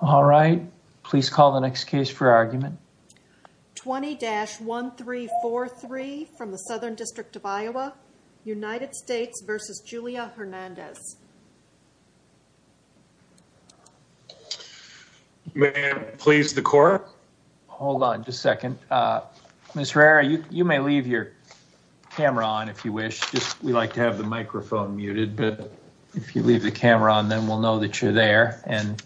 All right. Please call the next case for argument. 20-1343 from the Southern District of Iowa. United States v. Julia Hernandez. May I please the court? Hold on just a second. Ms. Herrera, you may leave your camera on if you wish. We like to have the microphone muted, but if you leave the camera on, then we'll know that you're there. And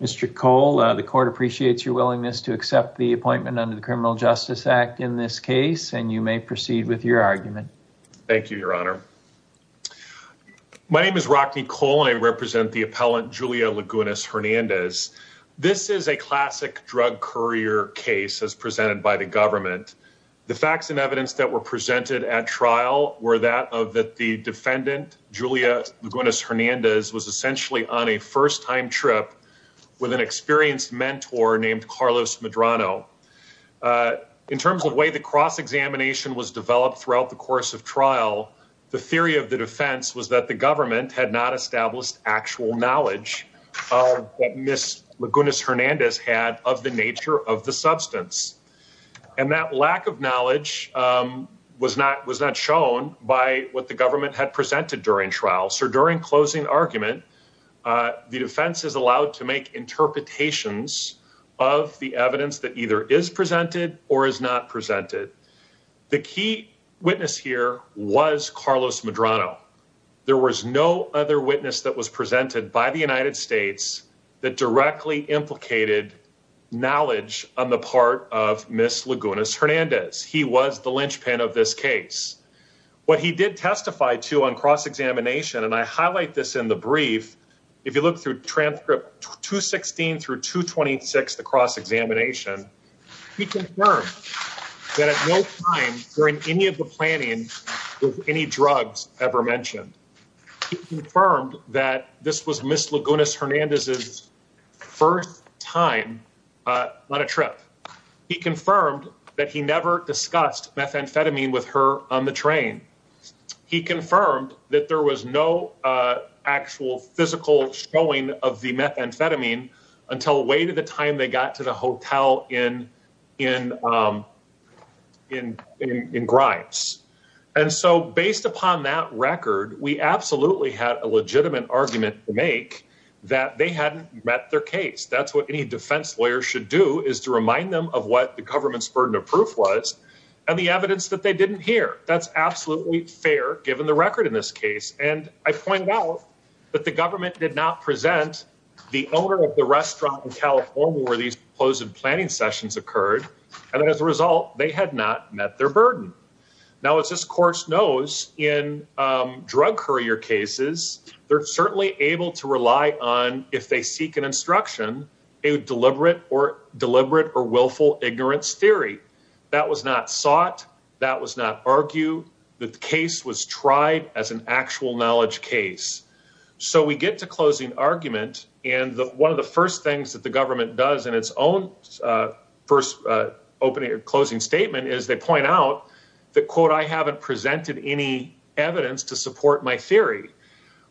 Mr. Cole, the court appreciates your willingness to accept the appointment under the Criminal Justice Act in this case. And you may proceed with your argument. Thank you, Your Honor. My name is Rocky Cole. I represent the appellant, Julia Lagunas Hernandez. This is a classic drug courier case as presented by the government. The facts and evidence that were presented at trial were that of the defendant, Julia Lagunas Hernandez, was essentially on a first time trip with an experienced mentor named Carlos Medrano. In terms of the way the cross examination was developed throughout the course of trial, the theory of the defense was that the government had not established actual knowledge that Ms. Lagunas Hernandez had of the nature of the substance. And that lack of knowledge was not was not shown by what the government had presented during trial. So during closing argument, the defense is allowed to make interpretations of the evidence that either is presented or is not presented. The key witness here was Carlos Medrano. There was no other witness that was presented by the United States that directly implicated knowledge on the part of Ms. Lagunas Hernandez. He was the linchpin of this case. What he did testify to on cross examination, and I highlight this in the brief. If you look through transcript 216 through 226, the cross examination, he confirmed that at no time during any of the planning of any drugs ever mentioned. He confirmed that this was Ms. Lagunas Hernandez's first time on a trip. He confirmed that he never discussed methamphetamine with her on the train. He confirmed that there was no actual physical showing of the methamphetamine until way to the time they got to the hotel in in in in in Grimes. And so based upon that record, we absolutely had a legitimate argument to make that they hadn't met their case. That's what any defense lawyer should do is to remind them of what the government's burden of proof was and the evidence that they didn't hear. That's absolutely fair, given the record in this case. And I pointed out that the government did not present the owner of the restaurant in California where these closed planning sessions occurred. And as a result, they had not met their burden. Now, as this course knows in drug courier cases, they're certainly able to rely on if they seek an instruction, a deliberate or deliberate or willful ignorance theory. That was not sought. That was not argued. The case was tried as an actual knowledge case. So we get to closing argument. And one of the first things that the government does in its own first opening or closing statement is they point out that, quote, I haven't presented any evidence to support my theory.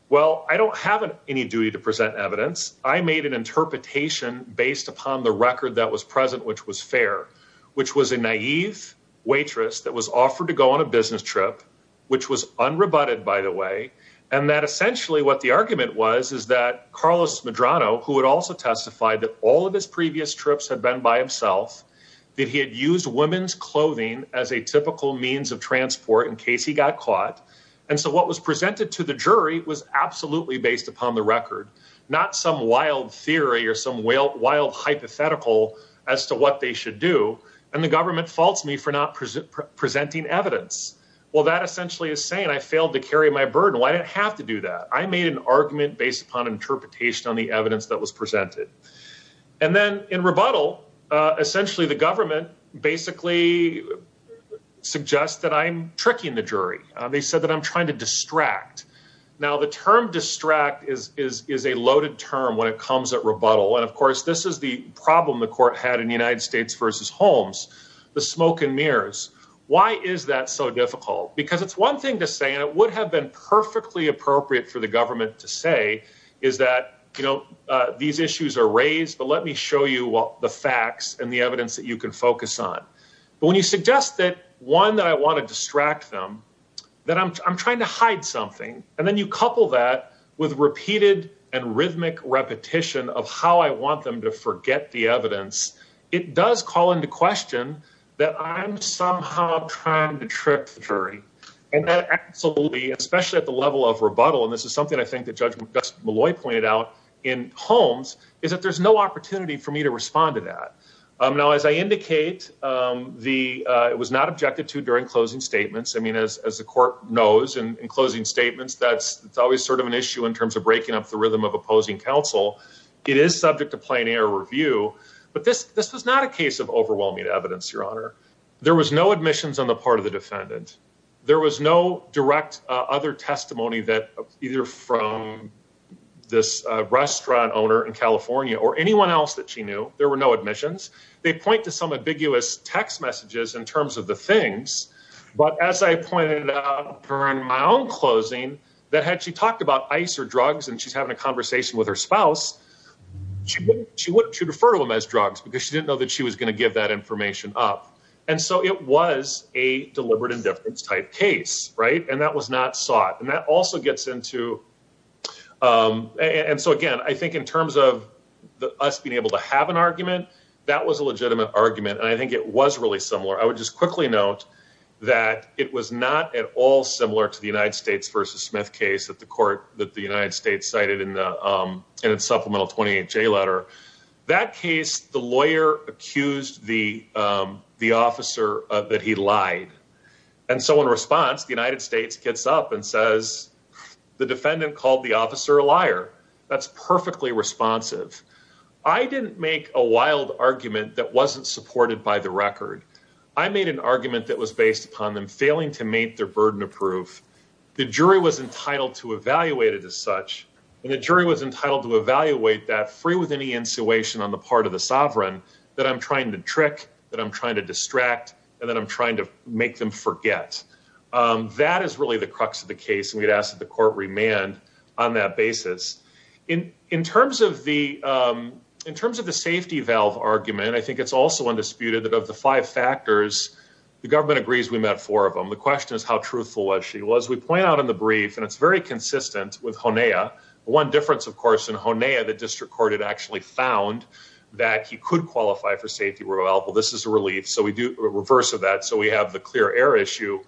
Well, I don't have any duty to present evidence. I made an interpretation based upon the record that was present, which was fair, which was a naive waitress that was offered to go on a business trip, which was unrebutted, by the way. And that essentially what the argument was, is that Carlos Medrano, who had also testified that all of his previous trips had been by himself, that he had used women's clothing as a typical means of transport in case he got caught. And so what was presented to the jury was absolutely based upon the record, not some wild theory or some wild hypothetical as to what they should do. And the government faults me for not presenting evidence. Well, that essentially is saying I failed to carry my burden. Why did I have to do that? I made an argument based upon interpretation on the evidence that was presented. And then in rebuttal, essentially, the government basically suggests that I'm tricking the jury. They said that I'm trying to distract. Now, the term distract is is is a loaded term when it comes at rebuttal. And of course, this is the problem the court had in the United States versus Holmes, the smoke and mirrors. Why is that so difficult? Because it's one thing to say it would have been perfectly appropriate for the government to say is that, you know, these issues are raised. But let me show you the facts and the evidence that you can focus on. But when you suggest that one that I want to distract them, that I'm trying to hide something and then you couple that with repeated and rhythmic repetition of how I want them to forget the evidence, it does call into question that I'm somehow trying to trick the jury. And that absolutely, especially at the level of rebuttal. And this is something I think that Judge Maloy pointed out in Holmes is that there's no opportunity for me to respond to that. Now, as I indicate, the it was not objected to during closing statements. I mean, as the court knows, in closing statements, that's always sort of an issue in terms of breaking up the rhythm of opposing counsel. It is subject to plain air review. But this this was not a case of overwhelming evidence, Your Honor. There was no admissions on the part of the defendant. There was no direct other testimony that either from this restaurant owner in California or anyone else that she knew. There were no admissions. They point to some ambiguous text messages in terms of the things. But as I pointed out during my own closing, that had she talked about ice or drugs and she's having a conversation with her spouse, she would refer to them as drugs because she didn't know that she was going to give that information up. And so it was a deliberate indifference type case. Right. And that was not sought. And that also gets into. And so, again, I think in terms of us being able to have an argument, that was a legitimate argument. And I think it was really similar. I would just quickly note that it was not at all similar to the United States versus Smith case at the court that the United States cited in its supplemental 28 J letter. That case, the lawyer accused the the officer that he lied. And so in response, the United States gets up and says the defendant called the officer a liar. That's perfectly responsive. I didn't make a wild argument that wasn't supported by the record. I made an argument that was based upon them failing to meet their burden of proof. The jury was entitled to evaluate it as such. And the jury was entitled to evaluate that free with any insulation on the part of the sovereign that I'm trying to trick, that I'm trying to distract and that I'm trying to make them forget. That is really the crux of the case. And we'd ask that the court remand on that basis in in terms of the in terms of the safety valve argument. I think it's also undisputed that of the five factors, the government agrees we met four of them. The question is how truthful she was. We point out in the brief and it's very consistent with one difference, of course, in the district court had actually found that he could qualify for safety. Well, this is a relief. So we do a reverse of that. So we have the clear air issue.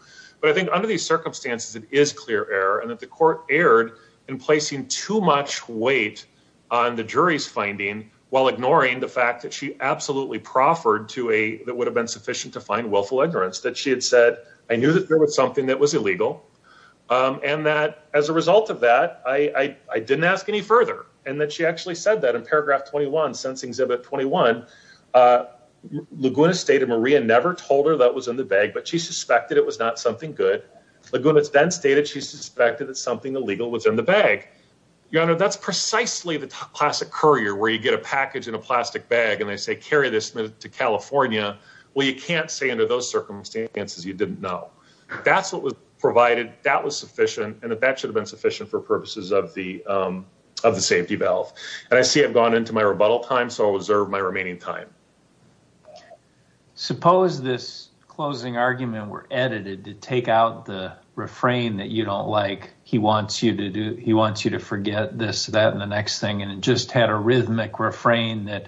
But I think under these circumstances, it is clear error and that the court erred in placing too much weight on the jury's finding while ignoring the fact that she absolutely proffered to a that would have been sufficient to find willful ignorance that she had said. I knew that there was something that was illegal and that as a result of that, I didn't ask any further and that she actually said that in paragraph twenty one since exhibit twenty one. Laguna stated Maria never told her that was in the bag, but she suspected it was not something good. Laguna then stated she suspected that something illegal was in the bag. Your Honor, that's precisely the classic courier where you get a package in a plastic bag and they say carry this to California. Well, you can't say under those circumstances you didn't know that's what was provided. That was sufficient. And that should have been sufficient for purposes of the of the safety valve. And I see I've gone into my rebuttal time. So I'll reserve my remaining time. Suppose this closing argument were edited to take out the refrain that you don't like. He wants you to do he wants you to forget this, that and the next thing. And it just had a rhythmic refrain that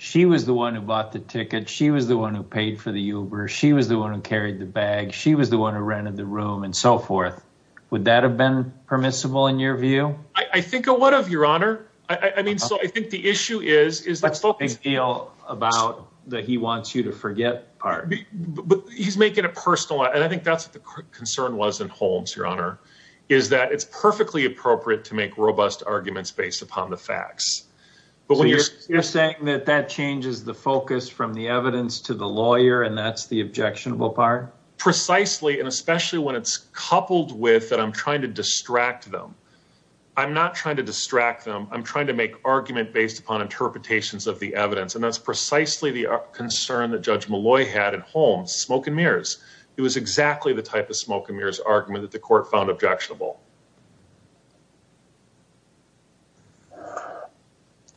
she was the one who bought the ticket. She was the one who paid for the Uber. She was the one who carried the bag. She was the one who rented the room and so forth. Would that have been permissible in your view? I think a lot of your honor. I mean, so I think the issue is, is that's the big deal about that. He wants you to forget part, but he's making a personal. And I think that's the concern was in Holmes, your honor, is that it's perfectly appropriate to make robust arguments based upon the facts. But when you're saying that that changes the focus from the evidence to the lawyer and that's the objectionable part precisely and especially when it's coupled with that, I'm trying to distract them. I'm not trying to distract them. I'm trying to make argument based upon interpretations of the evidence. And that's precisely the concern that Judge Malloy had at home smoke and mirrors. It was exactly the type of smoke and mirrors argument that the court found objectionable.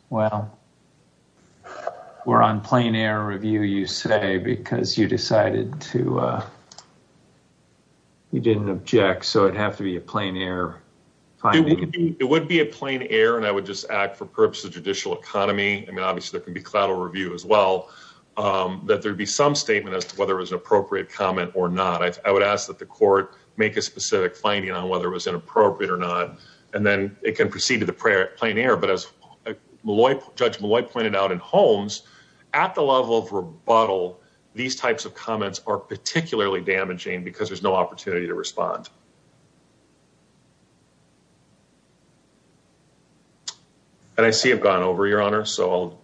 Well, we're on plain air review, you say, because you decided to. You didn't object, so it'd have to be a plain air, it would be a plain air, and I would just act for purpose of judicial economy. And obviously there can be collateral review as well, that there'd be some statement as to whether it was an appropriate comment or not. I would ask that the court make a specific finding on whether it was inappropriate or not, and then it can proceed to the prayer at plain air. But as Judge Malloy pointed out in Holmes, at the level of rebuttal, these types of comments are particularly damaging because there's no opportunity to respond. And I see I've gone over, Your Honor, so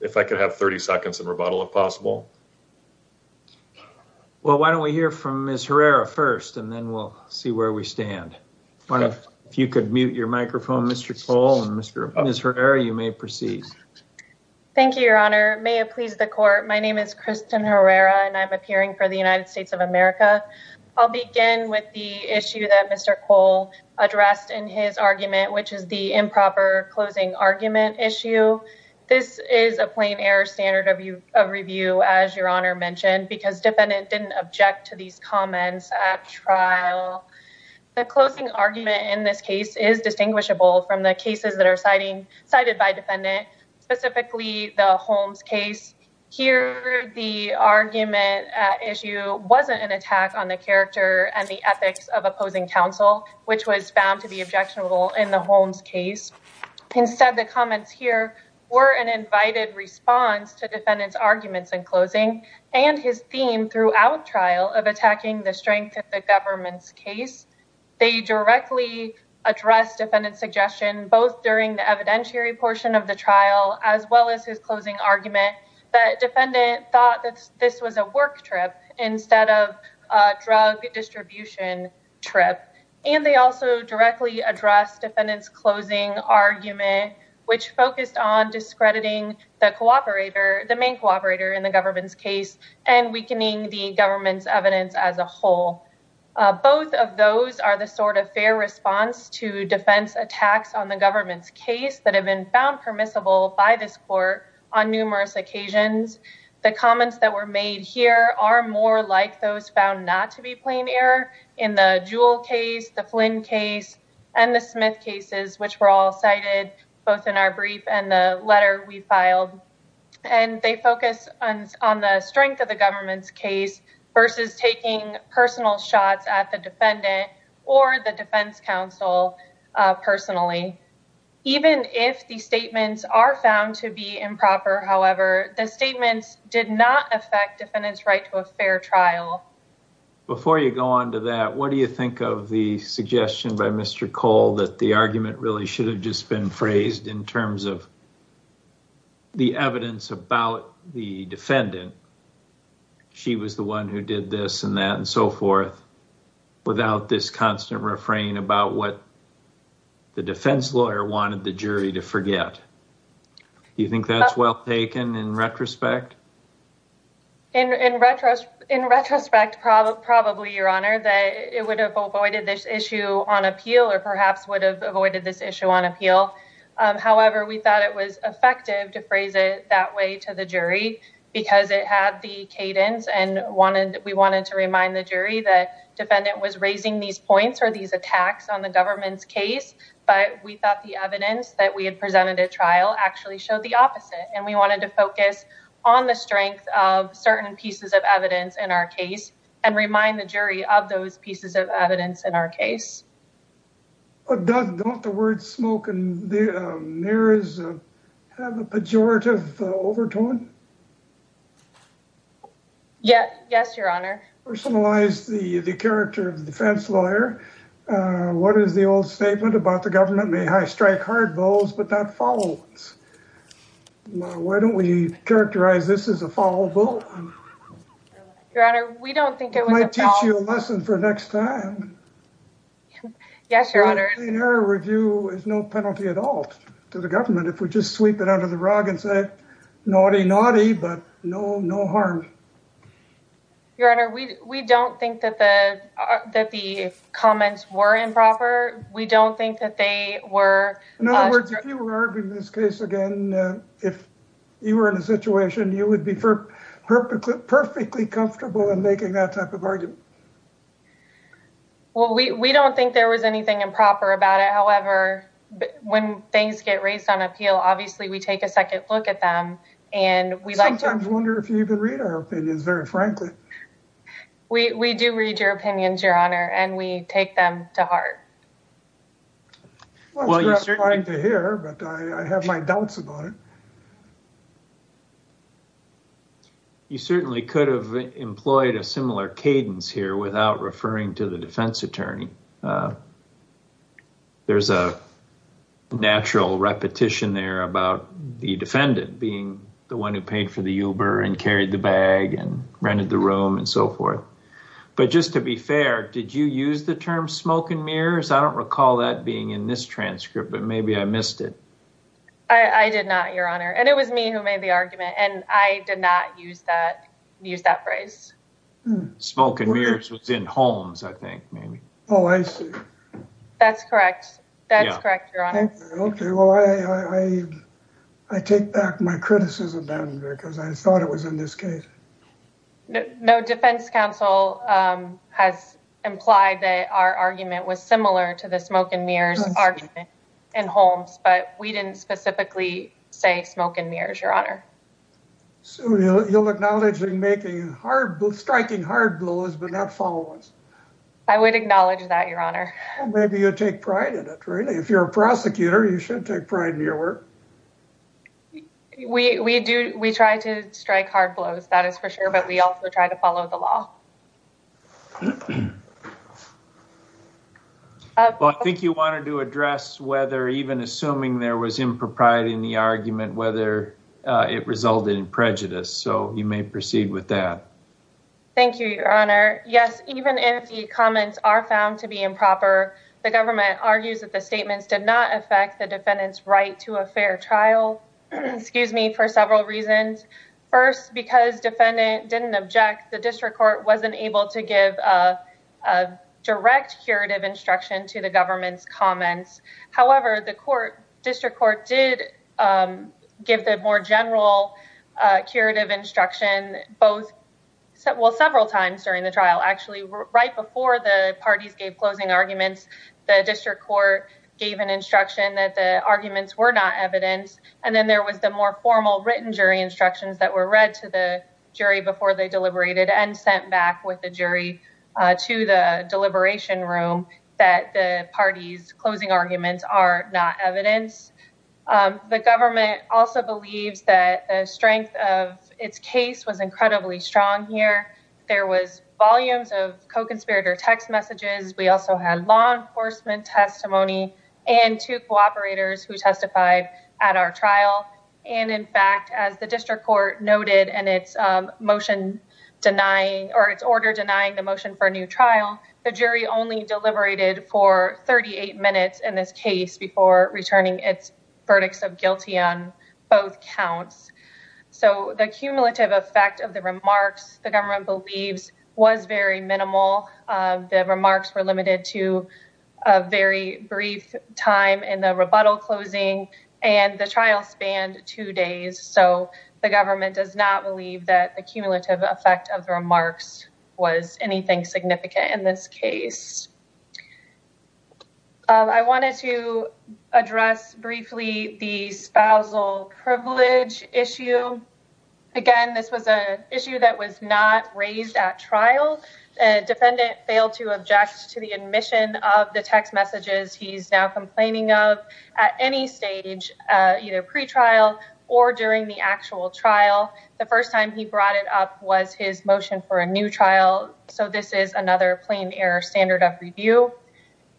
if I could have 30 seconds of rebuttal, if possible. Well, why don't we hear from Ms. Herrera first and then we'll see where we stand. If you could mute your microphone, Mr. Cole, and Ms. Herrera, you may proceed. Thank you, Your Honor. May it please the court, my name is Kristen Herrera and I'm appearing for the United States of America. I'll begin with the issue that Mr. Cole addressed in his argument, which is the improper closing argument issue. This is a plain air standard of review, as Your Honor mentioned, because defendant didn't object to these comments at trial. The closing argument in this case is distinguishable from the cases that are cited by defendant, specifically the Holmes case. Here, the argument issue wasn't an attack on the character and the ethics of opposing counsel, which was found to be objectionable in the Holmes case. Instead, the comments here were an invited response to defendant's arguments in closing and his theme throughout trial of attacking the strength of the government's case. They directly addressed defendant's suggestion, both during the evidentiary portion of the trial, as well as his closing argument that defendant thought that this was a work trip instead of a drug distribution trip. And they also directly addressed defendant's closing argument, which focused on discrediting the main cooperator in the government's case and weakening the government's evidence as a whole. Both of those are the sort of fair response to defense attacks on the government's case that have been found permissible by this court on numerous occasions. The comments that were made here are more like those found not to be plain error in the Jewell case, the Flynn case, and the Smith cases, which were all cited both in our brief and the letter we filed. And they focus on the strength of the government's case versus taking personal shots at the defendant or the defense counsel personally. Even if the statements are found to be improper, however, the statements did not affect defendant's right to a fair trial. Before you go on to that, what do you think of the suggestion by Mr. Cole that the argument really should have just been phrased in terms of the evidence about the defendant? She was the one who did this and that and so forth without this constant refrain about what the defense lawyer wanted the jury to forget. Do you think that's well taken in retrospect? In retrospect, probably, Your Honor, that it would have avoided this issue on appeal or perhaps would have avoided this issue on appeal. However, we thought it was effective to phrase it that way to the jury because it had the cadence and we wanted to remind the jury that defendant was raising these points or these attacks on the government's case. But we thought the evidence that we had presented at trial actually showed the opposite. And we wanted to focus on the strength of certain pieces of evidence in our case and remind the jury of those pieces of evidence in our case. But don't the words smoke and mirrors have a pejorative overtone? Yes, Your Honor. Personalize the character of the defense lawyer. What is the old statement about the government may high strike hard bows, but not foul ones? Why don't we characterize this as a foul vote? Your Honor, we don't think it was a foul vote. I might teach you a lesson for next time. Yes, Your Honor. Review is no penalty at all to the government if we just sweep it under the rug and say, naughty, naughty, but no, no harm. Your Honor, we we don't think that the that the comments were improper. We don't think that they were. In other words, if you were arguing this case again, if you were in a situation, you would be perfectly, perfectly comfortable in making that type of argument. Well, we, we don't think there was anything improper about it. However, when things get raised on appeal, obviously we take a second look at them and we like to... I sometimes wonder if you even read our opinions, very frankly. We do read your opinions, Your Honor, and we take them to heart. Well, it's gratifying to hear, but I have my doubts about it. You certainly could have employed a similar cadence here without referring to the defense attorney. There's a natural repetition there about the defendant being the one who paid for the Uber and carried the bag and rented the room and so forth. But just to be fair, did you use the term smoke and mirrors? I don't recall that being in this transcript, but maybe I missed it. I did not, Your Honor. And it was me who made the argument and I did not use that, use that phrase. Smoke and mirrors was in Holmes, I think, maybe. Oh, I see. That's correct. That's correct, Your Honor. Okay. Well, I, I take back my criticism then because I thought it was in this case. No, defense counsel has implied that our argument was similar to the smoke and mirrors argument in Holmes, but we didn't specifically say smoke and mirrors, Your Honor. So you'll acknowledge in making hard, striking hard blows, but not follow-ups. I would acknowledge that, Your Honor. Maybe you take pride in it, really. If you're a prosecutor, you should take pride in your work. We, we do, we try to strike hard blows, that is for sure. But we also try to follow the law. Well, I think you wanted to address whether even assuming there was impropriety in the argument, whether it resulted in prejudice. So you may proceed with that. Thank you, Your Honor. Yes, even if the comments are found to be improper, the government argues that the statements did not affect the defendant's right to a fair trial, excuse me, for several reasons. First, because defendant didn't object, the district court wasn't able to give a direct curative instruction to the government's comments. However, the court, district court did give the more general curative instruction both, well, several times during the trial. Actually, right before the parties gave closing arguments, the district court gave an instruction that the arguments were not evidence. And then there was the more formal written jury instructions that were read to the jury before they deliberated and sent back with the jury to the deliberation room that the party's closing arguments are not evidence. The government also believes that the strength of its case was incredibly strong here. There was volumes of co-conspirator text messages. We also had law enforcement testimony and two cooperators who testified at our trial. And in fact, as the district court noted in its motion denying or its order denying the motion for a new trial, the jury only deliberated for 38 minutes in this case before returning its verdicts of guilty on both counts. So the cumulative effect of the remarks the government believes was very minimal. The remarks were limited to a very brief time in the rebuttal closing and the trial spanned two days. So the government does not believe that the cumulative effect of the remarks was anything significant in this case. I wanted to address briefly the spousal privilege issue. Again, this was an issue that was not raised at trial. Defendant failed to object to the admission of the text messages he's now complaining of at any stage, either pre-trial or during the actual trial. The first time he brought it up was his motion for a new trial. So this is another plain error standard of review.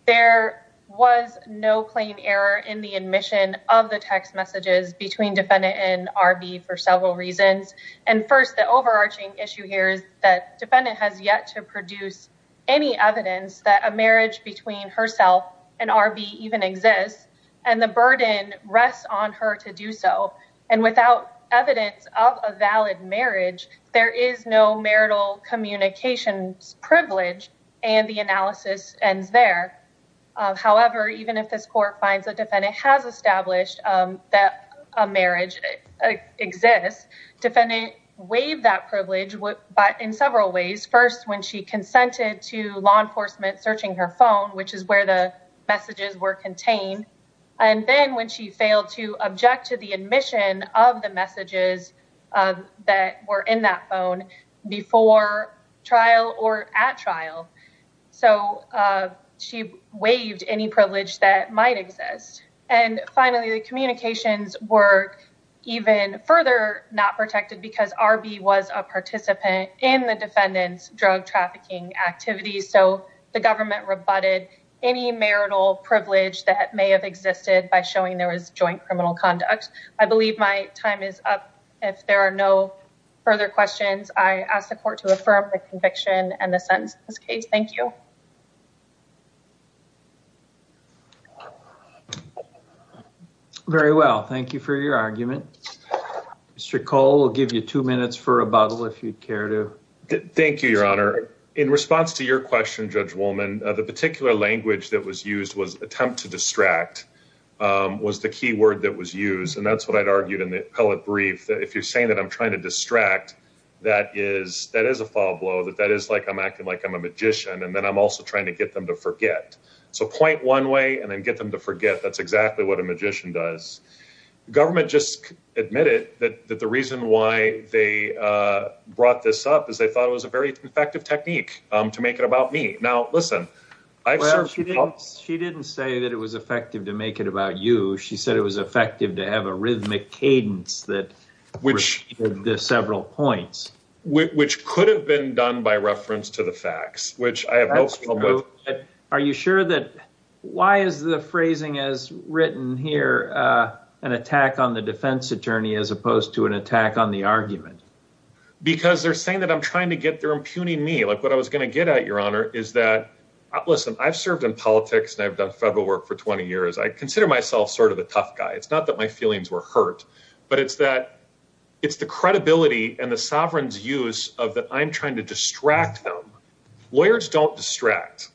There was no plain error in the admission of the text messages between defendant and R.B. for several reasons. And first, the overarching issue here is that defendant has yet to produce any evidence that a marriage between herself and R.B. even exists. And the burden rests on her to do so. And without evidence of a valid marriage, there is no marital communications privilege. And the analysis ends there. However, even if this court finds that defendant has established that a marriage exists, defendant waived that privilege. But in several ways, first, when she consented to law enforcement searching her phone, which is where the messages were contained. And then when she failed to object to the admission of the messages that were in that phone before trial or at trial. So she waived any privilege that might exist. And finally, the communications were even further not protected because R.B. was a participant in the defendant's drug trafficking activities. So the government rebutted any marital privilege that may have existed by showing there was joint criminal conduct. I believe my time is up. If there are no further questions, I ask the court to affirm the conviction and the sentence in this case. Thank you. Very well. Thank you for your argument. Mr. Cole, we'll give you two minutes for rebuttal if you'd care to. Thank you, Your Honor. In response to your question, Judge Woolman, the particular language that was used was attempt to distract was the key word that was used. And that's what I'd argued in the appellate brief that if you're saying that I'm trying to distract, that is that is a foul blow. That that is like I'm acting like I'm a magician. And then I'm also trying to get them to forget. So point one way and then get them to forget. That's exactly what a magician does. The government just admitted that the reason why they brought this up is they thought it was a very effective technique to make it about me. Now, listen, I've said she didn't say that it was effective to make it about you. She said it was effective to have a rhythmic cadence that which the several points which could have been done by reference to the facts, which I have. But are you sure that why is the phrasing as written here an attack on the defense attorney as opposed to an attack on the argument? Because they're saying that I'm trying to get their impugning me like what I was going to get at, Your Honor, is that, listen, I've served in politics and I've done federal work for 20 years. I consider myself sort of a tough guy. It's not that my feelings were hurt, but it's that it's the credibility and the sovereign's use of that. I'm trying to distract them. Lawyers don't distract.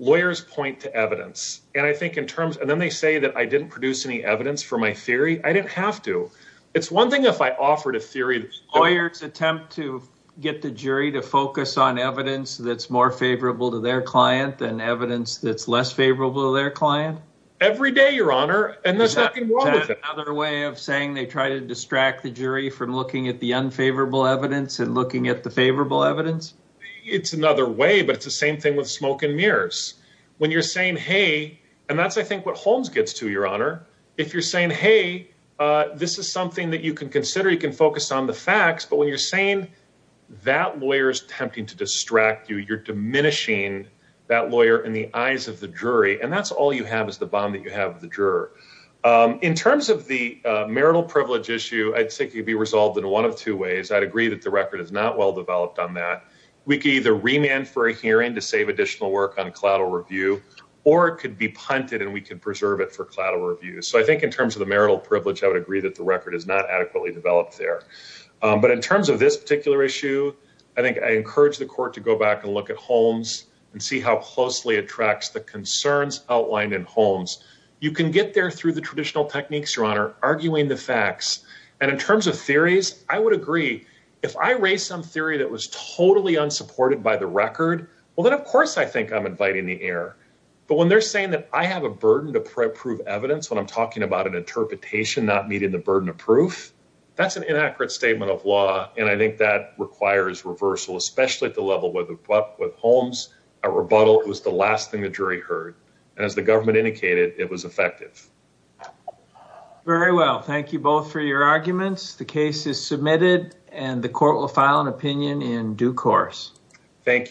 Lawyers point to evidence. And I think in terms and then they say that I didn't produce any evidence for my theory. I didn't have to. It's one thing if I offered a theory, lawyers attempt to get the jury to focus on evidence that's more favorable to their client than evidence that's less favorable to their client every day, Your Honor. And there's nothing wrong with another way of saying they try to distract the jury from looking at the unfavorable evidence and looking at the favorable evidence. It's another way, but it's the same thing with smoke and mirrors when you're saying, hey, and that's, I think, what Holmes gets to, Your Honor. If you're saying, hey, this is something that you can consider, you can focus on the facts. But when you're saying that lawyers attempting to distract you, you're diminishing that lawyer in the eyes of the jury. And that's all you have is the bond that you have with the juror. In terms of the marital privilege issue, I'd say could be resolved in one of two ways. I'd agree that the record is not well developed on that. We can either remand for a hearing to save additional work on collateral review, or it could be punted and we can preserve it for collateral review. So I think in terms of the marital privilege, I would agree that the record is not adequately developed there. But in terms of this particular issue, I think I encourage the court to go back and look at Holmes and see how closely it tracks the concerns outlined in Holmes. You can get there through the traditional techniques, Your Honor, arguing the facts. And in terms of theories, I would agree if I raise some theory that was totally unsupported by the record, well, then, of course, I think I'm inviting the air. But when they're saying that I have a burden to prove evidence when I'm talking about an interpretation not meeting the burden of proof, that's an inaccurate statement of law. And I think that requires reversal, especially at the level with Holmes, a rebuttal was the last thing the jury heard. And as the government indicated, it was effective. Very well. Thank you both for your arguments. The case is submitted and the court will file an opinion in due course. Thank you.